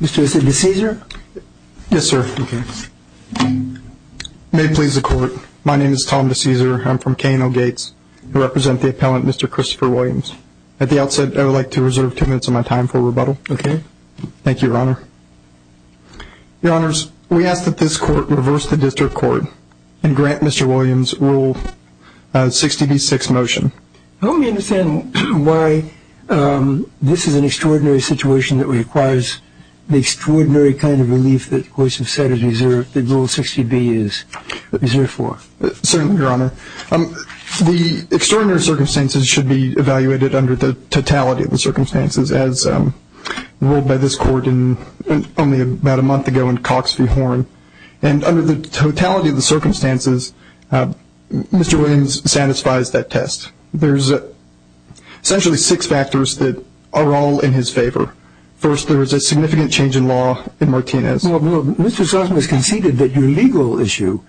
Mr. DeCaeser? Yes, sir. May it please the court, my name is Tom DeCaeser. I'm from K&L Gates. I represent the appellant, Mr. Christopher Williams. At the outset, I would like to reserve two minutes of my time for rebuttal. Okay. Thank you, your honor. Your honors, we ask that this court reverse the district court and grant Mr. Williams rule 60 v. 6 motion. Help me understand why this is an extraordinary situation that requires the extraordinary kind of relief that the court has said the rule 60 v. is reserved for. Certainly, your honor. The extraordinary circumstances should be evaluated under the totality of the circumstances as ruled by this court only about a month ago in Cox v. Horne. And under the totality of the circumstances, Mr. Williams satisfies that test. There's essentially six factors that are all in his favor. First, there is a significant change in law in Martinez. Well, Mr. Sossam has conceded that your legal issue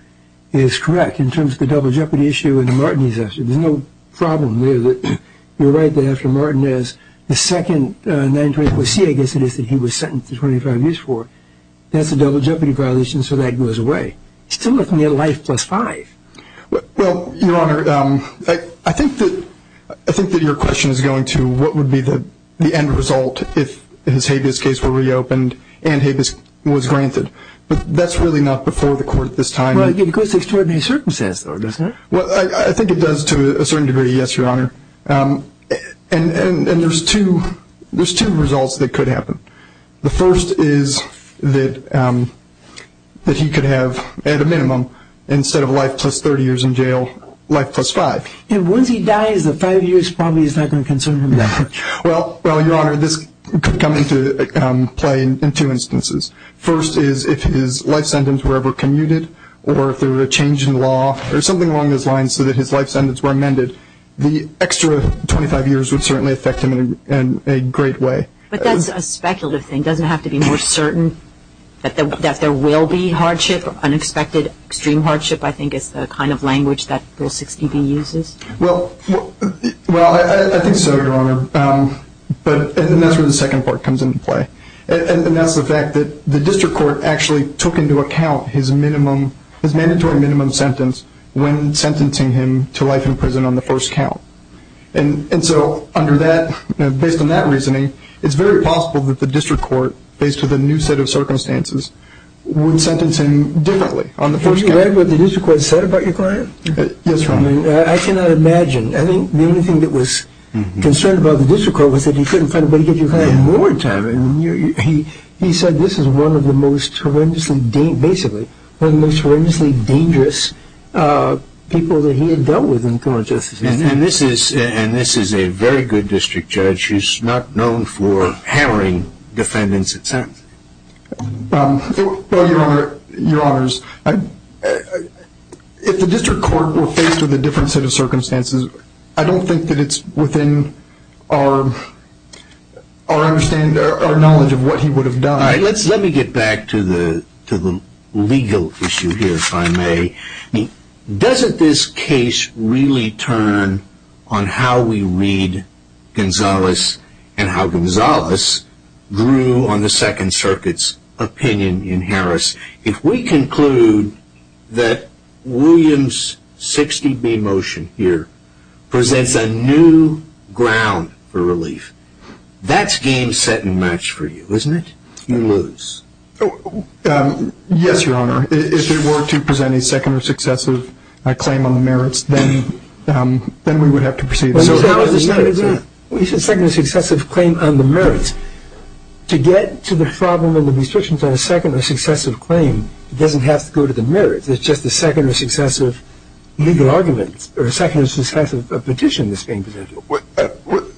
is correct in terms of the double jeopardy issue in the Martinez issue. There's no problem there that you're right that after Martinez, the second 924C I guess it is that he was sentenced to 25 years for, that's a double your life plus five. Well, your honor, I think that your question is going to what would be the end result if his habeas case were reopened and habeas was granted. But that's really not before the court at this time. Well, it goes to extraordinary circumstances though, doesn't it? Well, I think it does to a certain degree, yes, your honor. And there's two results that could happen. The first is that he could have at a minimum instead of life plus 30 years in jail, life plus five. And once he dies, the five years probably is not going to concern him then. Well, your honor, this could come into play in two instances. First is if his life sentence were ever commuted or if there were a change in law or something along those lines so that his life sentence were amended, the extra 25 years would certainly affect him in a great way. But that's a speculative thing. It doesn't have to be more certain that there will be hardship, unexpected extreme hardship I think is the kind of language that Bill 60B uses. Well, I think so, your honor. And that's where the second part comes into play. And that's the fact that the district court actually took into account his mandatory minimum sentence when sentencing him to life in prison on the first count. And so under that, based on that reasoning, it's very possible that the district court, based on the new set of circumstances, would sentence him differently on the first count. Were you aware of what the district court said about your client? Yes, your honor. I cannot imagine. I think the only thing that was concerned about the district court was that he couldn't find a way to give your client more time. He said this is one of the most horrendously, basically, one of the most horrendously dangerous people that he had dealt with in criminal justice history. And this is a very good district judge who's not known for hammering defendants. Your honors, if the district court were faced with a different set of circumstances, I don't think that it's within our knowledge of what he would have done. Let me get back to the legal issue here, if I may. Doesn't this case really turn on how we read Gonzalez and how Gonzalez grew on the Second Circuit's opinion in Harris? If we conclude that Williams' 60B motion here presents a new ground for relief, that's game set and match for you, isn't it? You lose. Yes, your honor. If it were to present a second or successive claim on the merits, then we would have to proceed. You said second or successive claim on the merits. To get to the problem and the restrictions on a second or successive claim doesn't have to go to the merits. It's just a second or successive legal argument or a second or successive petition that's being presented.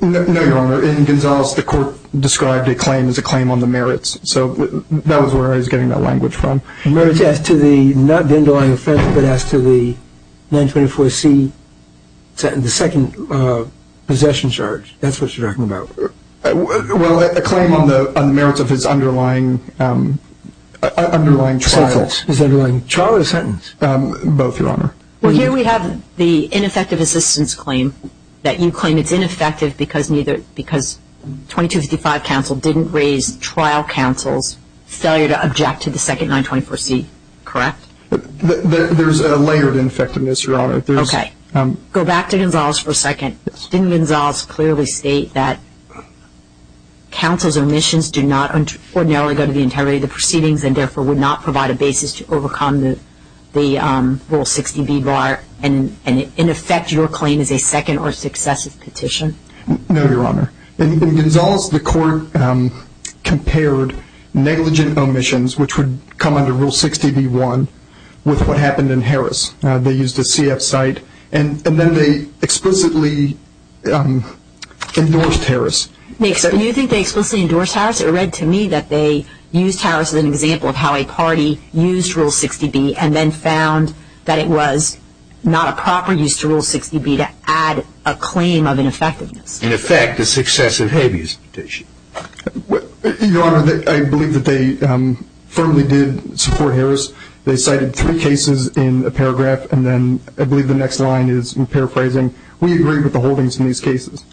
No, your honor. In Gonzalez, the court described a claim as a claim on the merits. So that was where I was getting that language from. Merits as to the, not the underlying offense, but as to the 924C, the second possession charge. That's what you're talking about. Well, a claim on the merits of his underlying trial. His underlying trial or sentence? Both, your honor. Well, here we have the ineffective assistance claim that you claim it's ineffective because 2255 counsel didn't raise trial counsel's objection to the second 924C, correct? There's a layer of effectiveness, your honor. Okay. Go back to Gonzalez for a second. Didn't Gonzalez clearly state that counsel's omissions do not ordinarily go to the integrity of the proceedings and therefore would not provide a basis to overcome the Rule 60B bar? And in effect, your claim is a second or successive petition? No, your honor. In Gonzalez, the court compared negligent omissions, which would come under Rule 60B1, with what happened in Harris. They used a CF site and then they explicitly endorsed Harris. Do you think they explicitly endorsed Harris? It read to me that they used Harris as an example of how a party used Rule 60B and then found that it was not a proper use to Rule 60B to add a claim of ineffectiveness. In effect, a successive habeas petition. Your honor, I believe that they firmly did support Harris. They cited three cases in a paragraph and then I believe the next line is in paraphrasing, we agree with the holdings in these cases.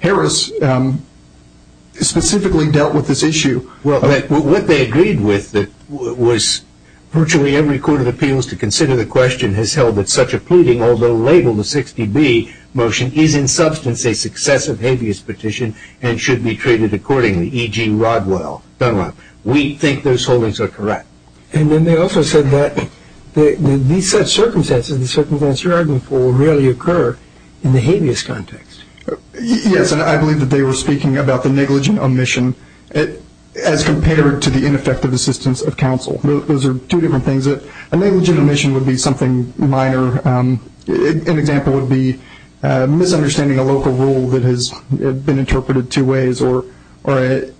Harris specifically dealt with this issue. Well, what they agreed with was virtually every court of appeals to consider the question has held that such a pleading, although labeled a 60B motion, is in substance a successive habeas petition and should be treated accordingly, e.g. Rodwell, Dunlop. We think those holdings are correct. And then they also said that these such circumstances, the circumstances you're arguing for, rarely occur in the habeas context. Yes, and I believe that they were speaking about the negligent omission as compared to the ineffective assistance of counsel. Those are two different things. A negligent omission would be something minor. An example would be misunderstanding a local rule that has been interpreted two ways or an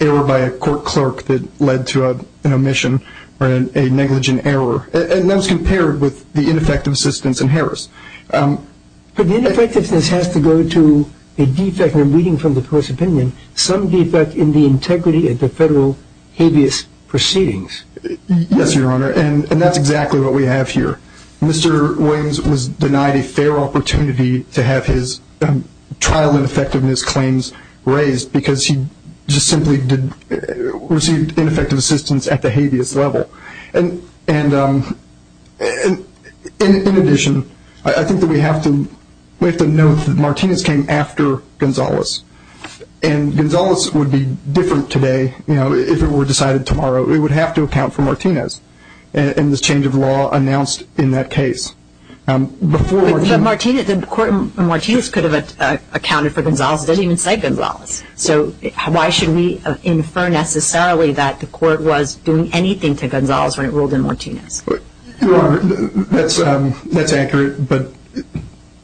error by a court clerk that led to an omission or a negligent error. And that was compared with the ineffective assistance in Harris. But the ineffectiveness has to go to a defect in reading from the court's opinion, some defect in the integrity of the federal habeas proceedings. Yes, Your Honor, and that's exactly what we have here. Mr. Williams was denied a fair opportunity to have his trial ineffectiveness claims raised because he just simply received ineffective assistance at the habeas level. And in addition, I think that we have to note that Martinez came after Gonzalez. And Gonzalez would be different today, you know, if it were decided tomorrow. It would have to account for Martinez and this change of law announced in that case. Before Martinez... But Martinez could have accounted for Gonzalez. It doesn't even say Gonzalez. So why should we infer necessarily that the court was doing anything to Gonzalez when it ruled in Martinez? Your Honor, that's accurate. But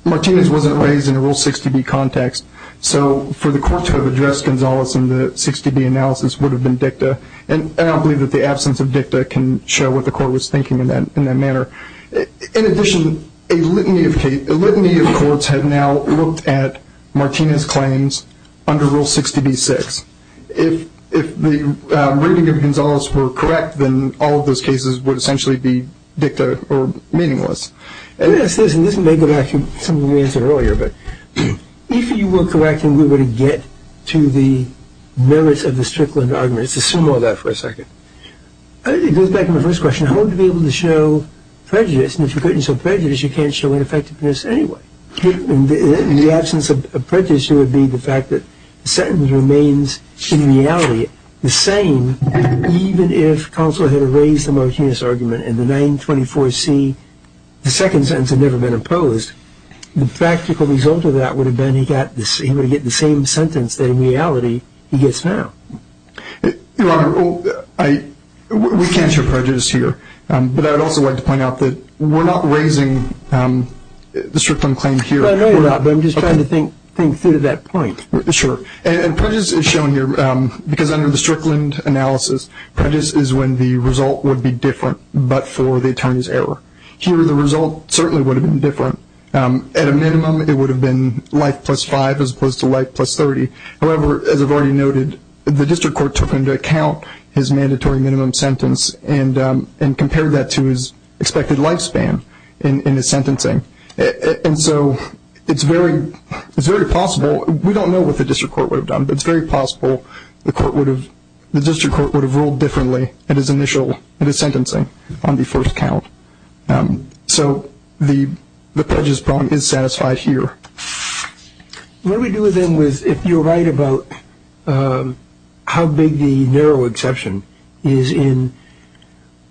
Martinez wasn't raised in a Rule 60B context. So for the court to have addressed Gonzalez in the 60B analysis would have been dicta. And I don't believe that the absence of dicta can show what the court was thinking in that manner. In addition, a litany of courts have now looked at Martinez' claims under Rule 60B-6. And if the reading of Gonzalez were correct, then all of those cases would essentially be dicta or meaningless. And this may go back to something we answered earlier. But if you were correct and we were to get to the merits of the Strickland argument, let's assume all that for a second. It goes back to my first question. I want to be able to show prejudice. And if you couldn't show prejudice, you can't show ineffectiveness anyway. In the absence of prejudice, it would be the fact that the sentence remains, in reality, the same, even if Gonzalez had raised the Martinez argument in the 924C, the second sentence had never been opposed. The practical result of that would have been he got the same sentence that, in reality, he gets now. Your Honor, we can't show prejudice here. But I would also like to point out that we're not raising the Strickland claim here. Well, I know you're not, but I'm just trying to think through to that point. Sure. And prejudice is shown here because under the Strickland analysis, prejudice is when the result would be different but for the attorney's error. Here, the result certainly would have been different. At a minimum, it would have been life plus 5 as opposed to life plus 30. However, as I've already noted, the district court took into account his mandatory minimum sentence and compared that to his expected lifespan in his sentencing. And so it's very possible. We don't know what the district court would have done, but it's very possible the district court would have ruled differently in his initial sentencing on the first count. So the prejudice problem is satisfied here. What we do then is, if you're right about how big the narrow exception is in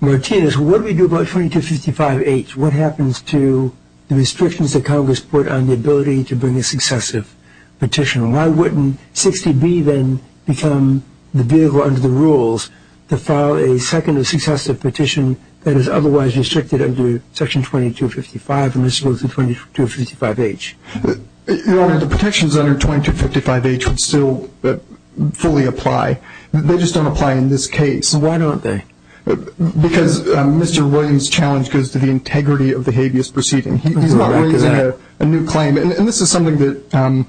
Martinez, what do we do about 2255H? What happens to the restrictions that Congress put on the ability to bring a successive petition? Why wouldn't 60B then become the vehicle under the rules to file a second or successive petition that is otherwise restricted under Section 2255 and this goes to 2255H? Your Honor, the protections under 2255H would still fully apply. They just don't apply in this case. Why don't they? Because Mr. Williams' challenge goes to the integrity of the habeas proceeding. He's not raising a new claim. And this is something that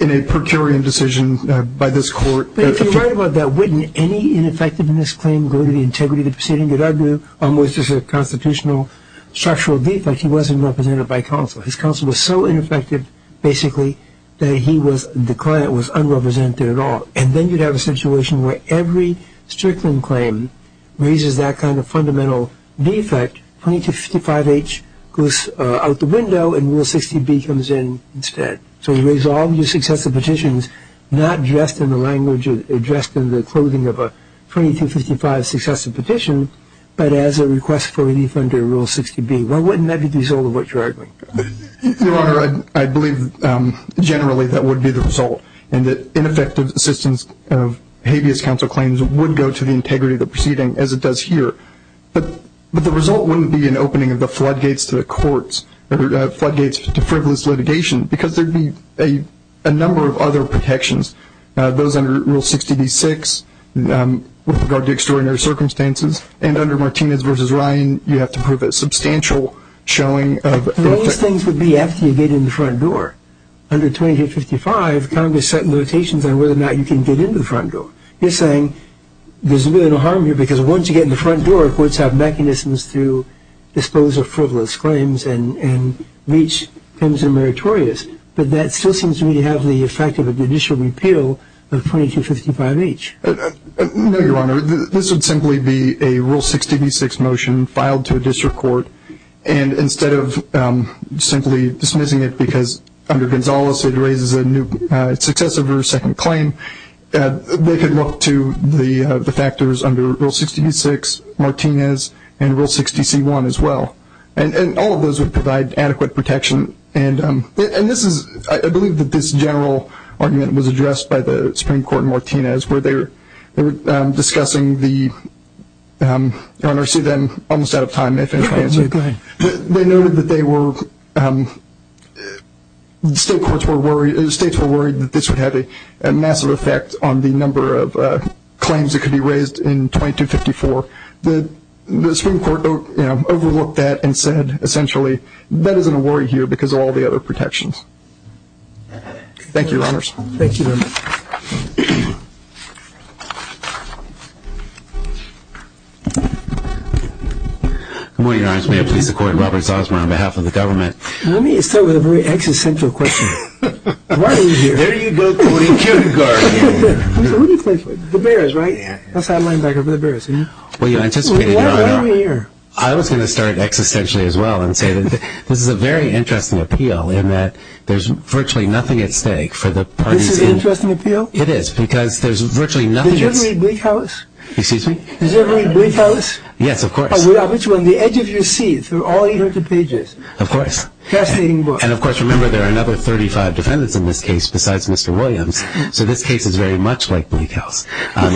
in a per curiam decision by this court But if you're right about that, wouldn't any ineffectiveness claim go to the integrity of the proceeding that I do, which is a constitutional structural defect? He wasn't represented by counsel. His counsel was so ineffective, basically, that he was, the client was unrepresented at all. And then you'd have a situation where every Strickland claim raises that kind of fundamental defect. 2255H goes out the window and Rule 60B comes in instead. So you raise all of your successive petitions, not dressed in the language or dressed in the clothing of a 2255 successive petition, but as a request for relief under Rule 60B. Why wouldn't that be the result of what you're arguing? Your Honor, I believe generally that would be the result. And that ineffective assistance of habeas counsel claims would go to the integrity of the proceeding as it does here. But the result wouldn't be an opening of the floodgates to the courts, floodgates to frivolous litigation, because there'd be a number of other protections. Those under Rule 60B-6 with regard to extraordinary circumstances. And under Martinez v. Ryan, you have to prove a substantial showing of those things would be after you get in the front door. Under 2255, Congress set limitations on whether or not you can get in the front door. You're saying there's really no harm here because once you get in the front door, courts have mechanisms to dispose of frivolous claims and reach claims that are meritorious. But that still seems to me to have the effect of a judicial repeal of 2255H. No, Your Honor. This would simply be a Rule 60B-6 motion filed to a district court. And instead of simply dismissing it because under Gonzales it raises a new successive or second claim, they could look to the factors under Rule 60B-6, Martinez, and Rule 60C-1 as well. And all of those would provide adequate protection. And this is, I believe that this general argument was addressed by the Supreme Court in Martinez where they were discussing the, Your Honor, I'm almost out of time. They noted that they were, the state courts were worried, the states were worried that this would have a massive effect on the number of claims that could be raised in 2254. The Supreme Court overlooked that and said essentially, that isn't a worry here because of all the other protections. Thank you, Your Honors. Thank you very much. Good morning, Your Honors. May I please support Robert Zosmer on behalf of the government? Let me start with a very existential question. Why are we here? There you go, Tony Cunegar again. Who do you play for? The Bears, right? That's how I lined back up with the Bears. Well, you anticipated, Your Honor, I was going to start existentially as well and say that this is a very interesting appeal in that there's virtually nothing at stake for the parties in... This is an interesting appeal? It is because there's virtually nothing... Did you ever read Bleak House? Excuse me? Did you ever read Bleak House? Yes, of course. Which one? The edge of your seat through all 800 pages. Of course. Fascinating book. And of course, remember there are another 35 defendants in this case besides Mr. Williams, so this case is very much like Bleak House.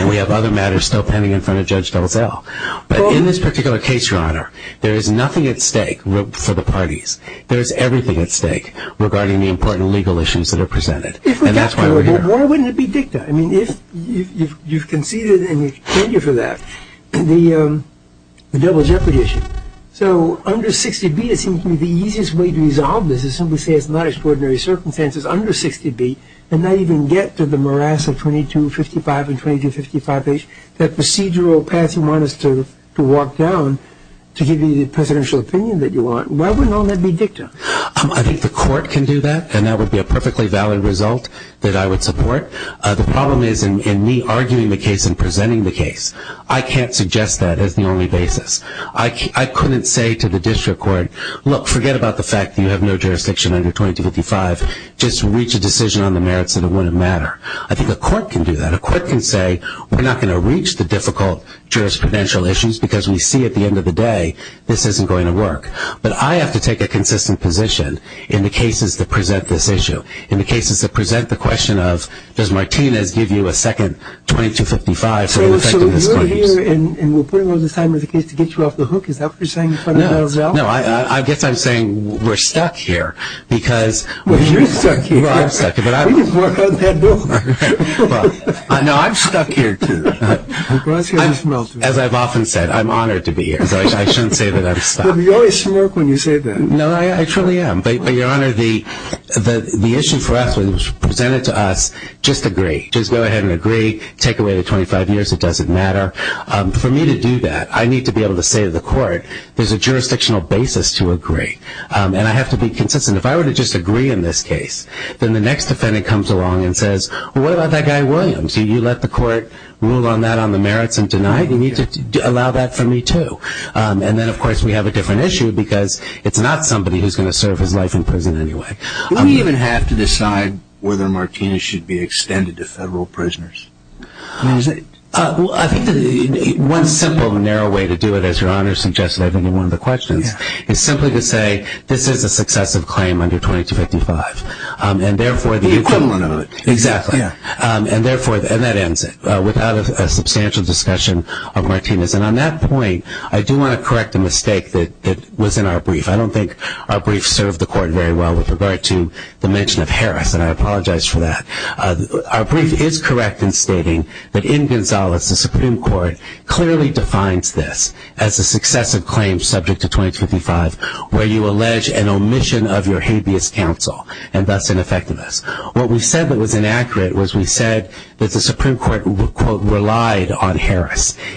We have other matters still pending in front of Judge Delzell. But in this particular case, Your Honor, there is nothing at stake for the parties. There is everything at stake regarding the important legal issues that are presented. If we got to it, why wouldn't it be dicta? I mean, if you've conceded and you're pending for that, the double jeopardy issue. So under 60B it seems to me the easiest way to resolve this is simply say it's not extraordinary circumstances under 60B and not even get to the morass of 2255 and 2255 page, that procedural path you want us to walk down to give you the presidential opinion that you want. Why do you think the court can do that? And that would be a perfectly valid result that I would support. The problem is in me arguing the case and presenting the case. I can't suggest that as the only basis. I couldn't say to the district court, look, forget about the fact that you have no jurisdiction under 2255. Just reach a decision on the merits that it wouldn't matter. I think the court can do that. A court can say we're not going to reach the difficult jurisprudential issues because we see at the end of the day this isn't going to work. But I have to take a consistent position in the cases that present this issue. In the cases that present the question of does Martinez give you a second 2255 for the effectiveness claims. So you're here and we're putting those assignments to get you off the hook. Is that what you're saying? No, I guess I'm saying we're stuck here because... Well, you're stuck here. Well, I'm stuck here. We just work on that bill. No, I'm stuck here too. As I've often said, I'm honored to be here. So I shouldn't say that I'm stuck. But you always smirk when you say that. No, I truly am. But Your Honor, the issue for us when it was presented to us, just agree. Just go ahead and agree. Take away the 25 years. It doesn't matter. For me to do that, I need to be able to say to the court there's a jurisdictional basis to agree. And I have to be consistent. If I were to just agree in this case, then the next defendant comes along and says, well, what about that guy Williams? You let the court rule on that on the merits and deny it? You need to allow that for me too. And then, of course, we have a different issue because it's not somebody who's going to serve his life in prison anyway. Do we even have to decide whether Martinez should be extended to federal prisoners? I think one simple narrow way to do it, as Your Honor suggested, I think in one of the questions, is simply to say this is a successive claim under 2255. The equivalent of it. Exactly. And that ends it without a substantial discussion of Martinez. And on that point, I do want to correct a mistake that was in our brief. I don't think our brief served the court very well with regard to the mention of Harris. And I apologize for that. Our brief is correct in stating that in Gonzalez, the Supreme Court clearly defines this as a successive claim subject to 2255 where you allege an omission of your habeas counsel and thus ineffective us. What we said that was inaccurate was we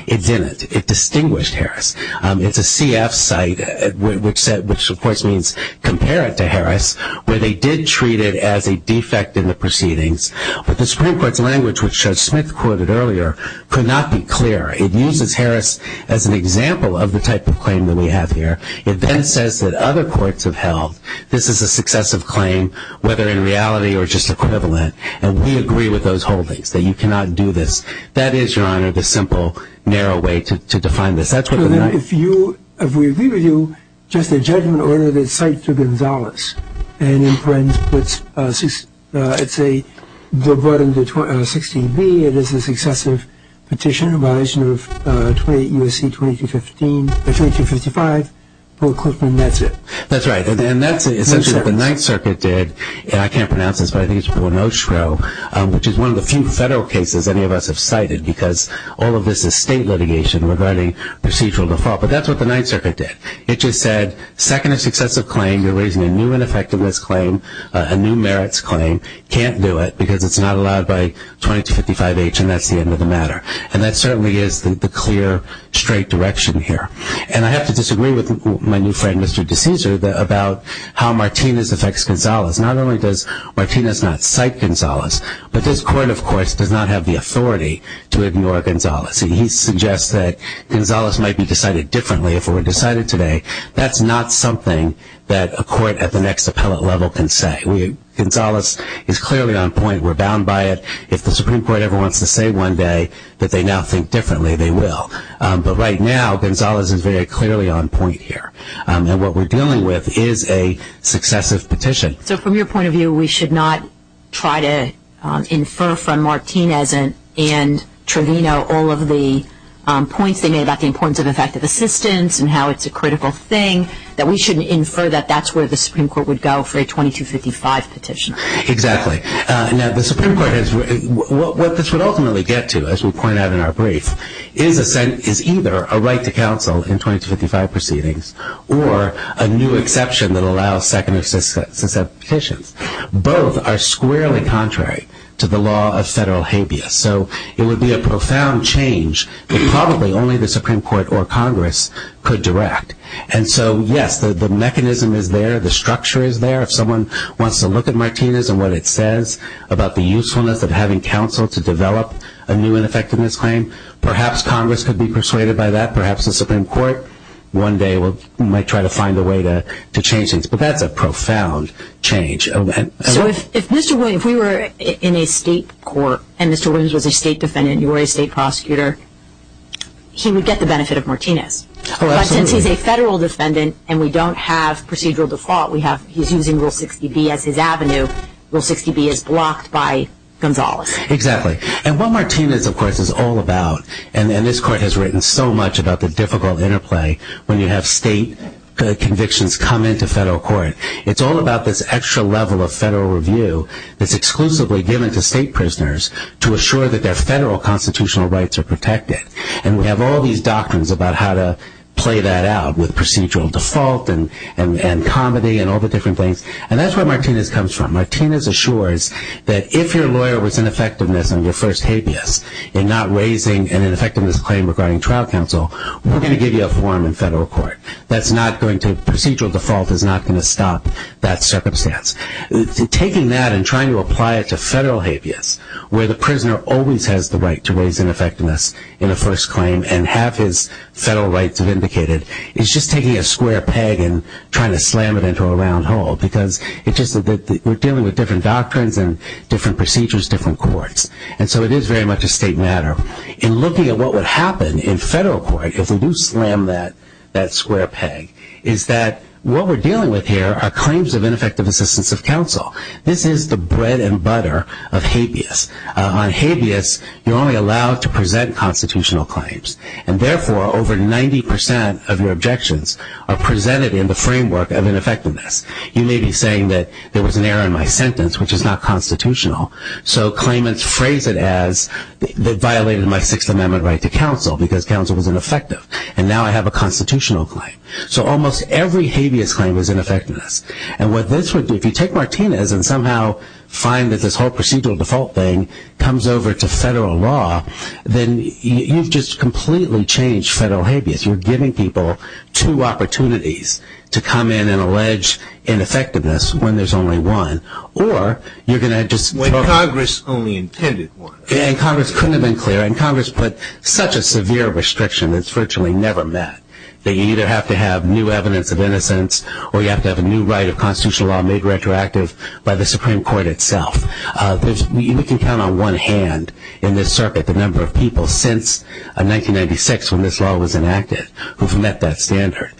It's in it. It distinguished Harris. It's a CF site, which of course means compare it to Harris, where they did treat it as a defect in the proceedings. But the Supreme Court's language, which Judge Smith quoted earlier, could not be clearer. It uses Harris as an example of the type of claim that we have here. It then says that other courts have held this is a successive claim, whether in reality or just equivalent. And we agree with those holdings, that you cannot do this. That is, Your Honor, the simple, narrow way to define this. That's what if you if we agree with you, just a judgment order that cites to Gonzalez and imprints. Let's see. Let's say they're brought into 16B. It is a successive petition of 28 U.S.C. 2215, 2255. That's it. That's right. And then that's essentially what the Ninth Circuit did. And I can't pronounce this, but I think it's one of the few federal cases any of us have cited, because all of this is state litigation regarding procedural default. But that's what the Ninth Circuit did. It just said, second a successive claim, you're raising a new ineffectiveness claim, a new merits claim. Can't do it, because it's not allowed by 2255H, and that's the end of the matter. And that certainly is the clear, straight direction here. And I have to disagree with my new friend, Mr. DeCesar, about how Martinez affects Gonzalez. Not only does Martinez not cite Gonzalez, but this court, of course, does not have the authority to ignore Gonzalez. He suggests that Gonzalez might be decided differently if it were decided today. That's not something that a court at the next appellate level can say. Gonzalez is clearly on point. We're bound by it. If the Supreme Court ever wants to say one day that they now think differently, they will. But right now, Gonzalez is very clearly on point here. And what we're dealing with is a successive petition. So from your point of view, we should not try to infer from Martinez and Trevino all of the points they made about the importance of effective assistance and how it's a critical thing, that we shouldn't infer that that's where the Supreme Court would go for a 2255 petition. Exactly. Now, the Supreme Court has – what this would ultimately get to, as we point out in our brief, is either a right to counsel in 2255 proceedings or a new exception that would get us to 2255 petitions. Both are squarely contrary to the law of federal habeas. So it would be a profound change that probably only the Supreme Court or Congress could direct. And so, yes, the mechanism is there. The structure is there. If someone wants to look at Martinez and what it says about the usefulness of having counsel to develop a new ineffectiveness claim, perhaps Congress could be persuaded by that. Perhaps the Supreme Court one day might try to find a way to change things. But that's a profound change. So if Mr. Williams – if we were in a state court and Mr. Williams was a state defendant and you were a state prosecutor, he would get the benefit of Martinez. Oh, absolutely. But since he's a federal defendant and we don't have procedural default, we have – he's using Rule 60B as his avenue. Rule 60B is blocked by Gonzales. Exactly. And what Martinez, of course, is all about – and this Court has written so much about the difficult interplay when you have state convictions come into federal court – it's all about this extra level of federal review that's exclusively given to state prisoners to assure that their federal constitutional rights are protected. And we have all these doctrines about how to play that out with procedural default and comedy and all the different things. And that's where Martinez comes from. Martinez assures that if your lawyer was ineffectiveness on your first habeas in not raising an ineffectiveness claim regarding trial counsel, we're going to give you a forum in federal court. That's not going to – procedural default is not going to stop that circumstance. Taking that and trying to apply it to federal habeas where the prisoner always has the right to raise ineffectiveness in a first claim and have his federal rights vindicated is just taking a square peg and trying to slam it into a round hole because it just – we're dealing with different doctrines and different procedures, different courts. And so it is very much a state matter. In looking at what would happen in federal court if we do slam that square peg is that what we're dealing with here are claims of ineffective assistance of counsel. This is the bread and butter of habeas. On habeas, you're only allowed to present constitutional claims. And therefore, over 90% of your objections are presented in the framework of ineffectiveness. You may be saying that there was an error in my sentence, which is not constitutional. So claimants phrase it as they violated my Sixth Amendment right to counsel because counsel was ineffective. And now I have a constitutional claim. So almost every habeas claim is ineffectiveness. And what this would do – if you take Martinez and somehow find that this whole procedural default thing comes over to federal law, then you've just completely changed federal habeas. You're giving people two opportunities to come in and allege ineffectiveness when there's only one. Or you're going to just – When Congress only intended one. And Congress couldn't have been clearer. And Congress put such a severe restriction that's virtually never met, that you either have to have new evidence of innocence or you have to have a new right of constitutional law made retroactive by the Supreme Court itself. We can count on one hand in this circuit the number of people since 1996 when this law was enacted who've met that standard.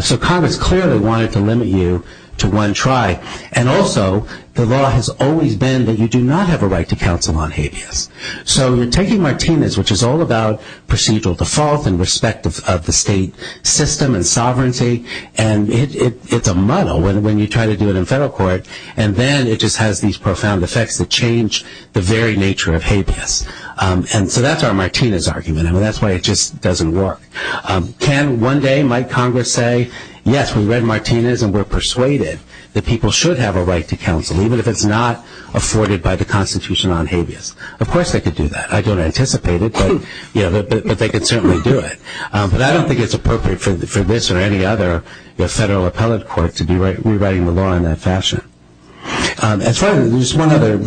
So Congress clearly wanted to limit you to one try. And also the law has always been that you do not have a right to counsel on habeas. So you're taking Martinez, which is all about procedural default in respect of the state system and sovereignty, and it's a muddle when you try to do it in federal court. And then it just has these profound effects that change the very nature of habeas. So that's our Martinez argument. That's why it just doesn't work. Can one day might Congress say, yes, we read Martinez and we're persuaded that people should have a right to counsel, even if it's not afforded by the Constitution on habeas. Of course they could do that. I don't anticipate it, but they could certainly do it. But I don't think it's appropriate for this or any other federal appellate court to be rewriting the Constitution in that fashion. There's one other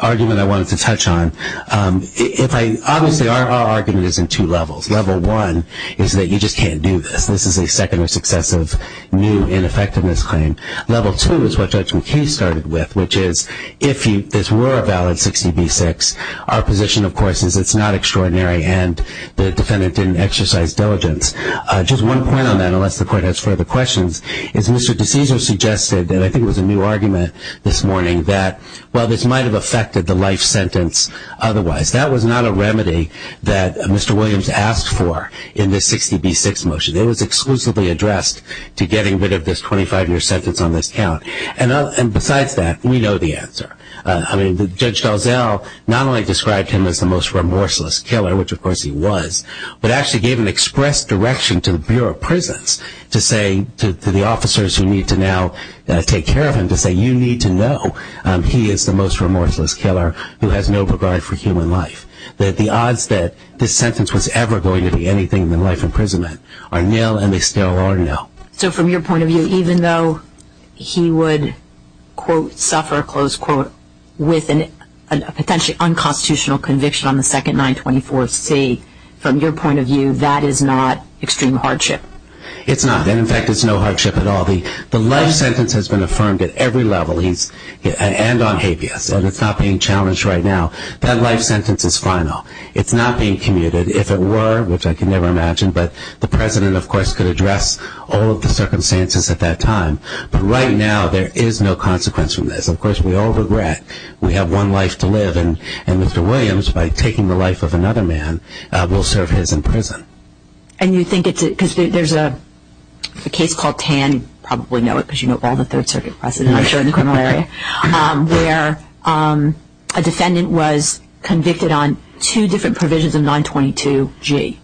argument I wanted to touch on. Obviously our argument is in two levels. Level one is that you just can't do this. This is a second or successive new ineffectiveness claim. Level two is what Judge McKee started with, which is if this were a valid 60B6, our position, of course, is it's not extraordinary and the defendant didn't exercise diligence. Just one point on that, unless the court has further questions, is Mr. DeCesaro suggested, and I think it was a new argument this morning, that while this might have affected the life sentence otherwise, that was not a remedy that Mr. Williams asked for in this 60B6 motion. It was exclusively addressed to getting rid of this 25-year sentence on this count. And besides that, we know the answer. I mean, Judge Dalzell not only described him as the most remorseless killer, which of course he was, but actually gave an express direction to the Bureau of Prisons to say, to the officers who need to now take care of him, to say, you need to know he is the most remorseless killer who has no regard for human life. That the odds that this sentence was ever going to be anything but life imprisonment are nil and they still are nil. So from your point of view, even though he would, quote, suffer, close quote, with a potentially unconstitutional conviction on the second 924C, from your point of view, that is not extreme hardship. It's not. And in fact, it's no hardship at all. The life sentence has been affirmed at every level. And on habeas. And it's not being challenged right now. That life sentence is final. It's not being commuted. If it were, which I can never imagine, but the President of course could address all of the circumstances at that time. But right now, there is no consequence from this. Of course, we all regret. We have one life to live. And Mr. Williams, by taking the life of another man, will serve his in prison. And you think it's a, because there's a case called Tann, you probably know it because you know all the Third Circuit precedent, I'm sure, in the criminal area, where a defendant was convicted on two different provisions of 922G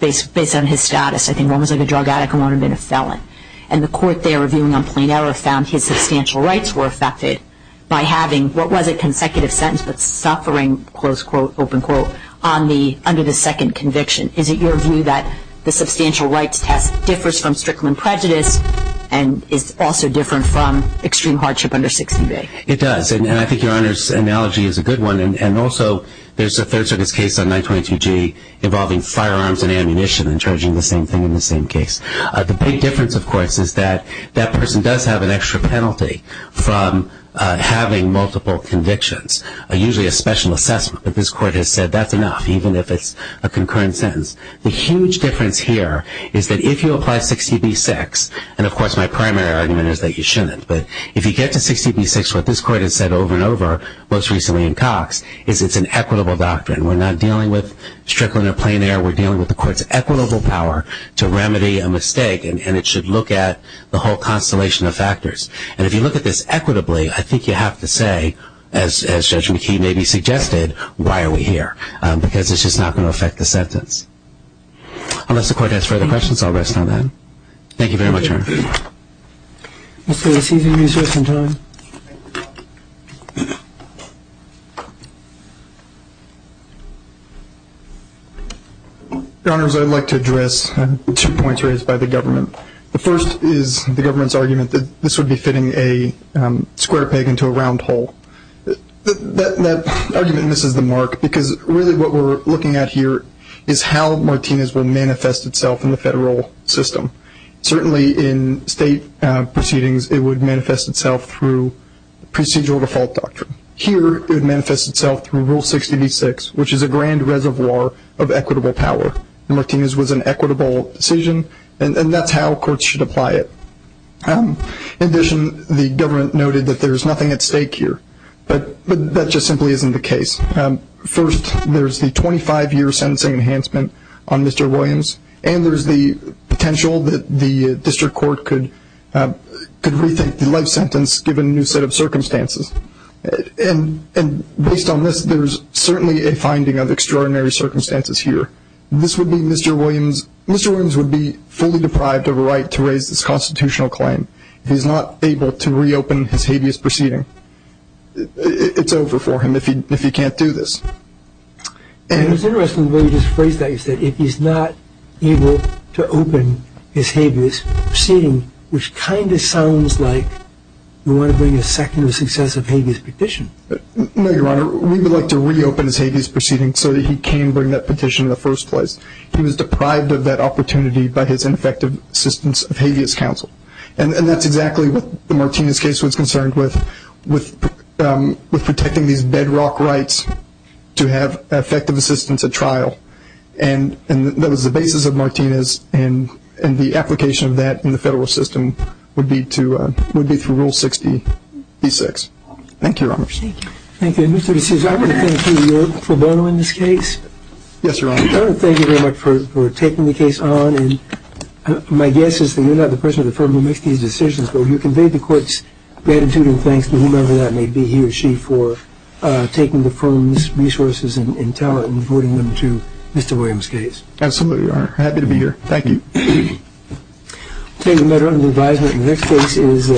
based on his status. I think one was like a drug addict and one had been a felon. And the court there reviewing on plain error found his substantial rights were affected by having what was a consecutive sentence, but suffering, close quote, open quote, under the second conviction. Is it your view that the substantial rights test differs from Strickland prejudice and is also different from extreme hardship under 60 day? It does. And I think your Honor's analogy is a good one. And also, there's a Third Circuit's case on 922G involving firearms and ammunition and charging the same thing in the same case. The big difference, of course, is that that person does have an extra penalty from having multiple convictions, usually a special assessment. But this court has said that's enough, even if it's a concurrent sentence. The huge difference here is that if you apply 60B6, and of course, my primary argument is that you shouldn't. But if you get to 60B6, what this court has said over and over, most recently in Cox, is it's an equitable doctrine. We're not dealing with Strickland or plain error. We're dealing with the court's equitable power to remedy a mistake. And it should look at the whole constellation of factors. And if you look at this equitably, I think you have to say, as Judge McKee maybe suggested, why are we here? Because it's just not going to affect the sentence. Unless the court has further questions, I'll rest on that. Thank you very much, Your Honor. Your Honors, I'd like to address two points raised by the government. The first is the government's argument that this would be fitting a square peg into a round hole. That argument misses the mark, because really what we're looking at here is how Martinez will manifest itself in the federal system. Certainly in state proceedings, it would manifest itself through procedural default doctrine. Here, it would manifest itself through Rule 60B6, which is a grand reservoir of equitable power. Martinez was an equitable decision, and that's how courts should apply it. In addition, the government noted that there's nothing at stake here. But that just simply isn't the case. First, there's the 25-year sentencing enhancement on Mr. Williams, and there's the potential that the district court could rethink the life sentence given a new set of circumstances. Based on this, there's certainly a finding of extraordinary circumstances here. Mr. Williams would be fully deprived of a right to raise this constitutional claim if he's not able to reopen his habeas proceeding. It's over for him if he can't do this. It's interesting the way you just phrased that. You said, if he's not able to open his habeas proceeding, he's not going to be able to get a second or successive habeas petition. No, Your Honor. We would like to reopen his habeas proceeding so that he can bring that petition in the first place. He was deprived of that opportunity by his ineffective assistance of habeas counsel. And that's exactly what the Martinez case was concerned with, with protecting these bedrock rights to have effective assistance at trial. And that was the basis of Martinez, and the application of that in the federal system would be through Rule 60-B-6. Thank you, Your Honor. Thank you. Mr. DeSouza, I want to thank you for voting on this case. Yes, Your Honor. I want to thank you very much for taking the case on. My guess is that you're not the person at the firm who makes these decisions, but you conveyed the court's gratitude and thanks to whomever that may be, he or she, for taking the firm's case. I'm happy to be here. Thank you.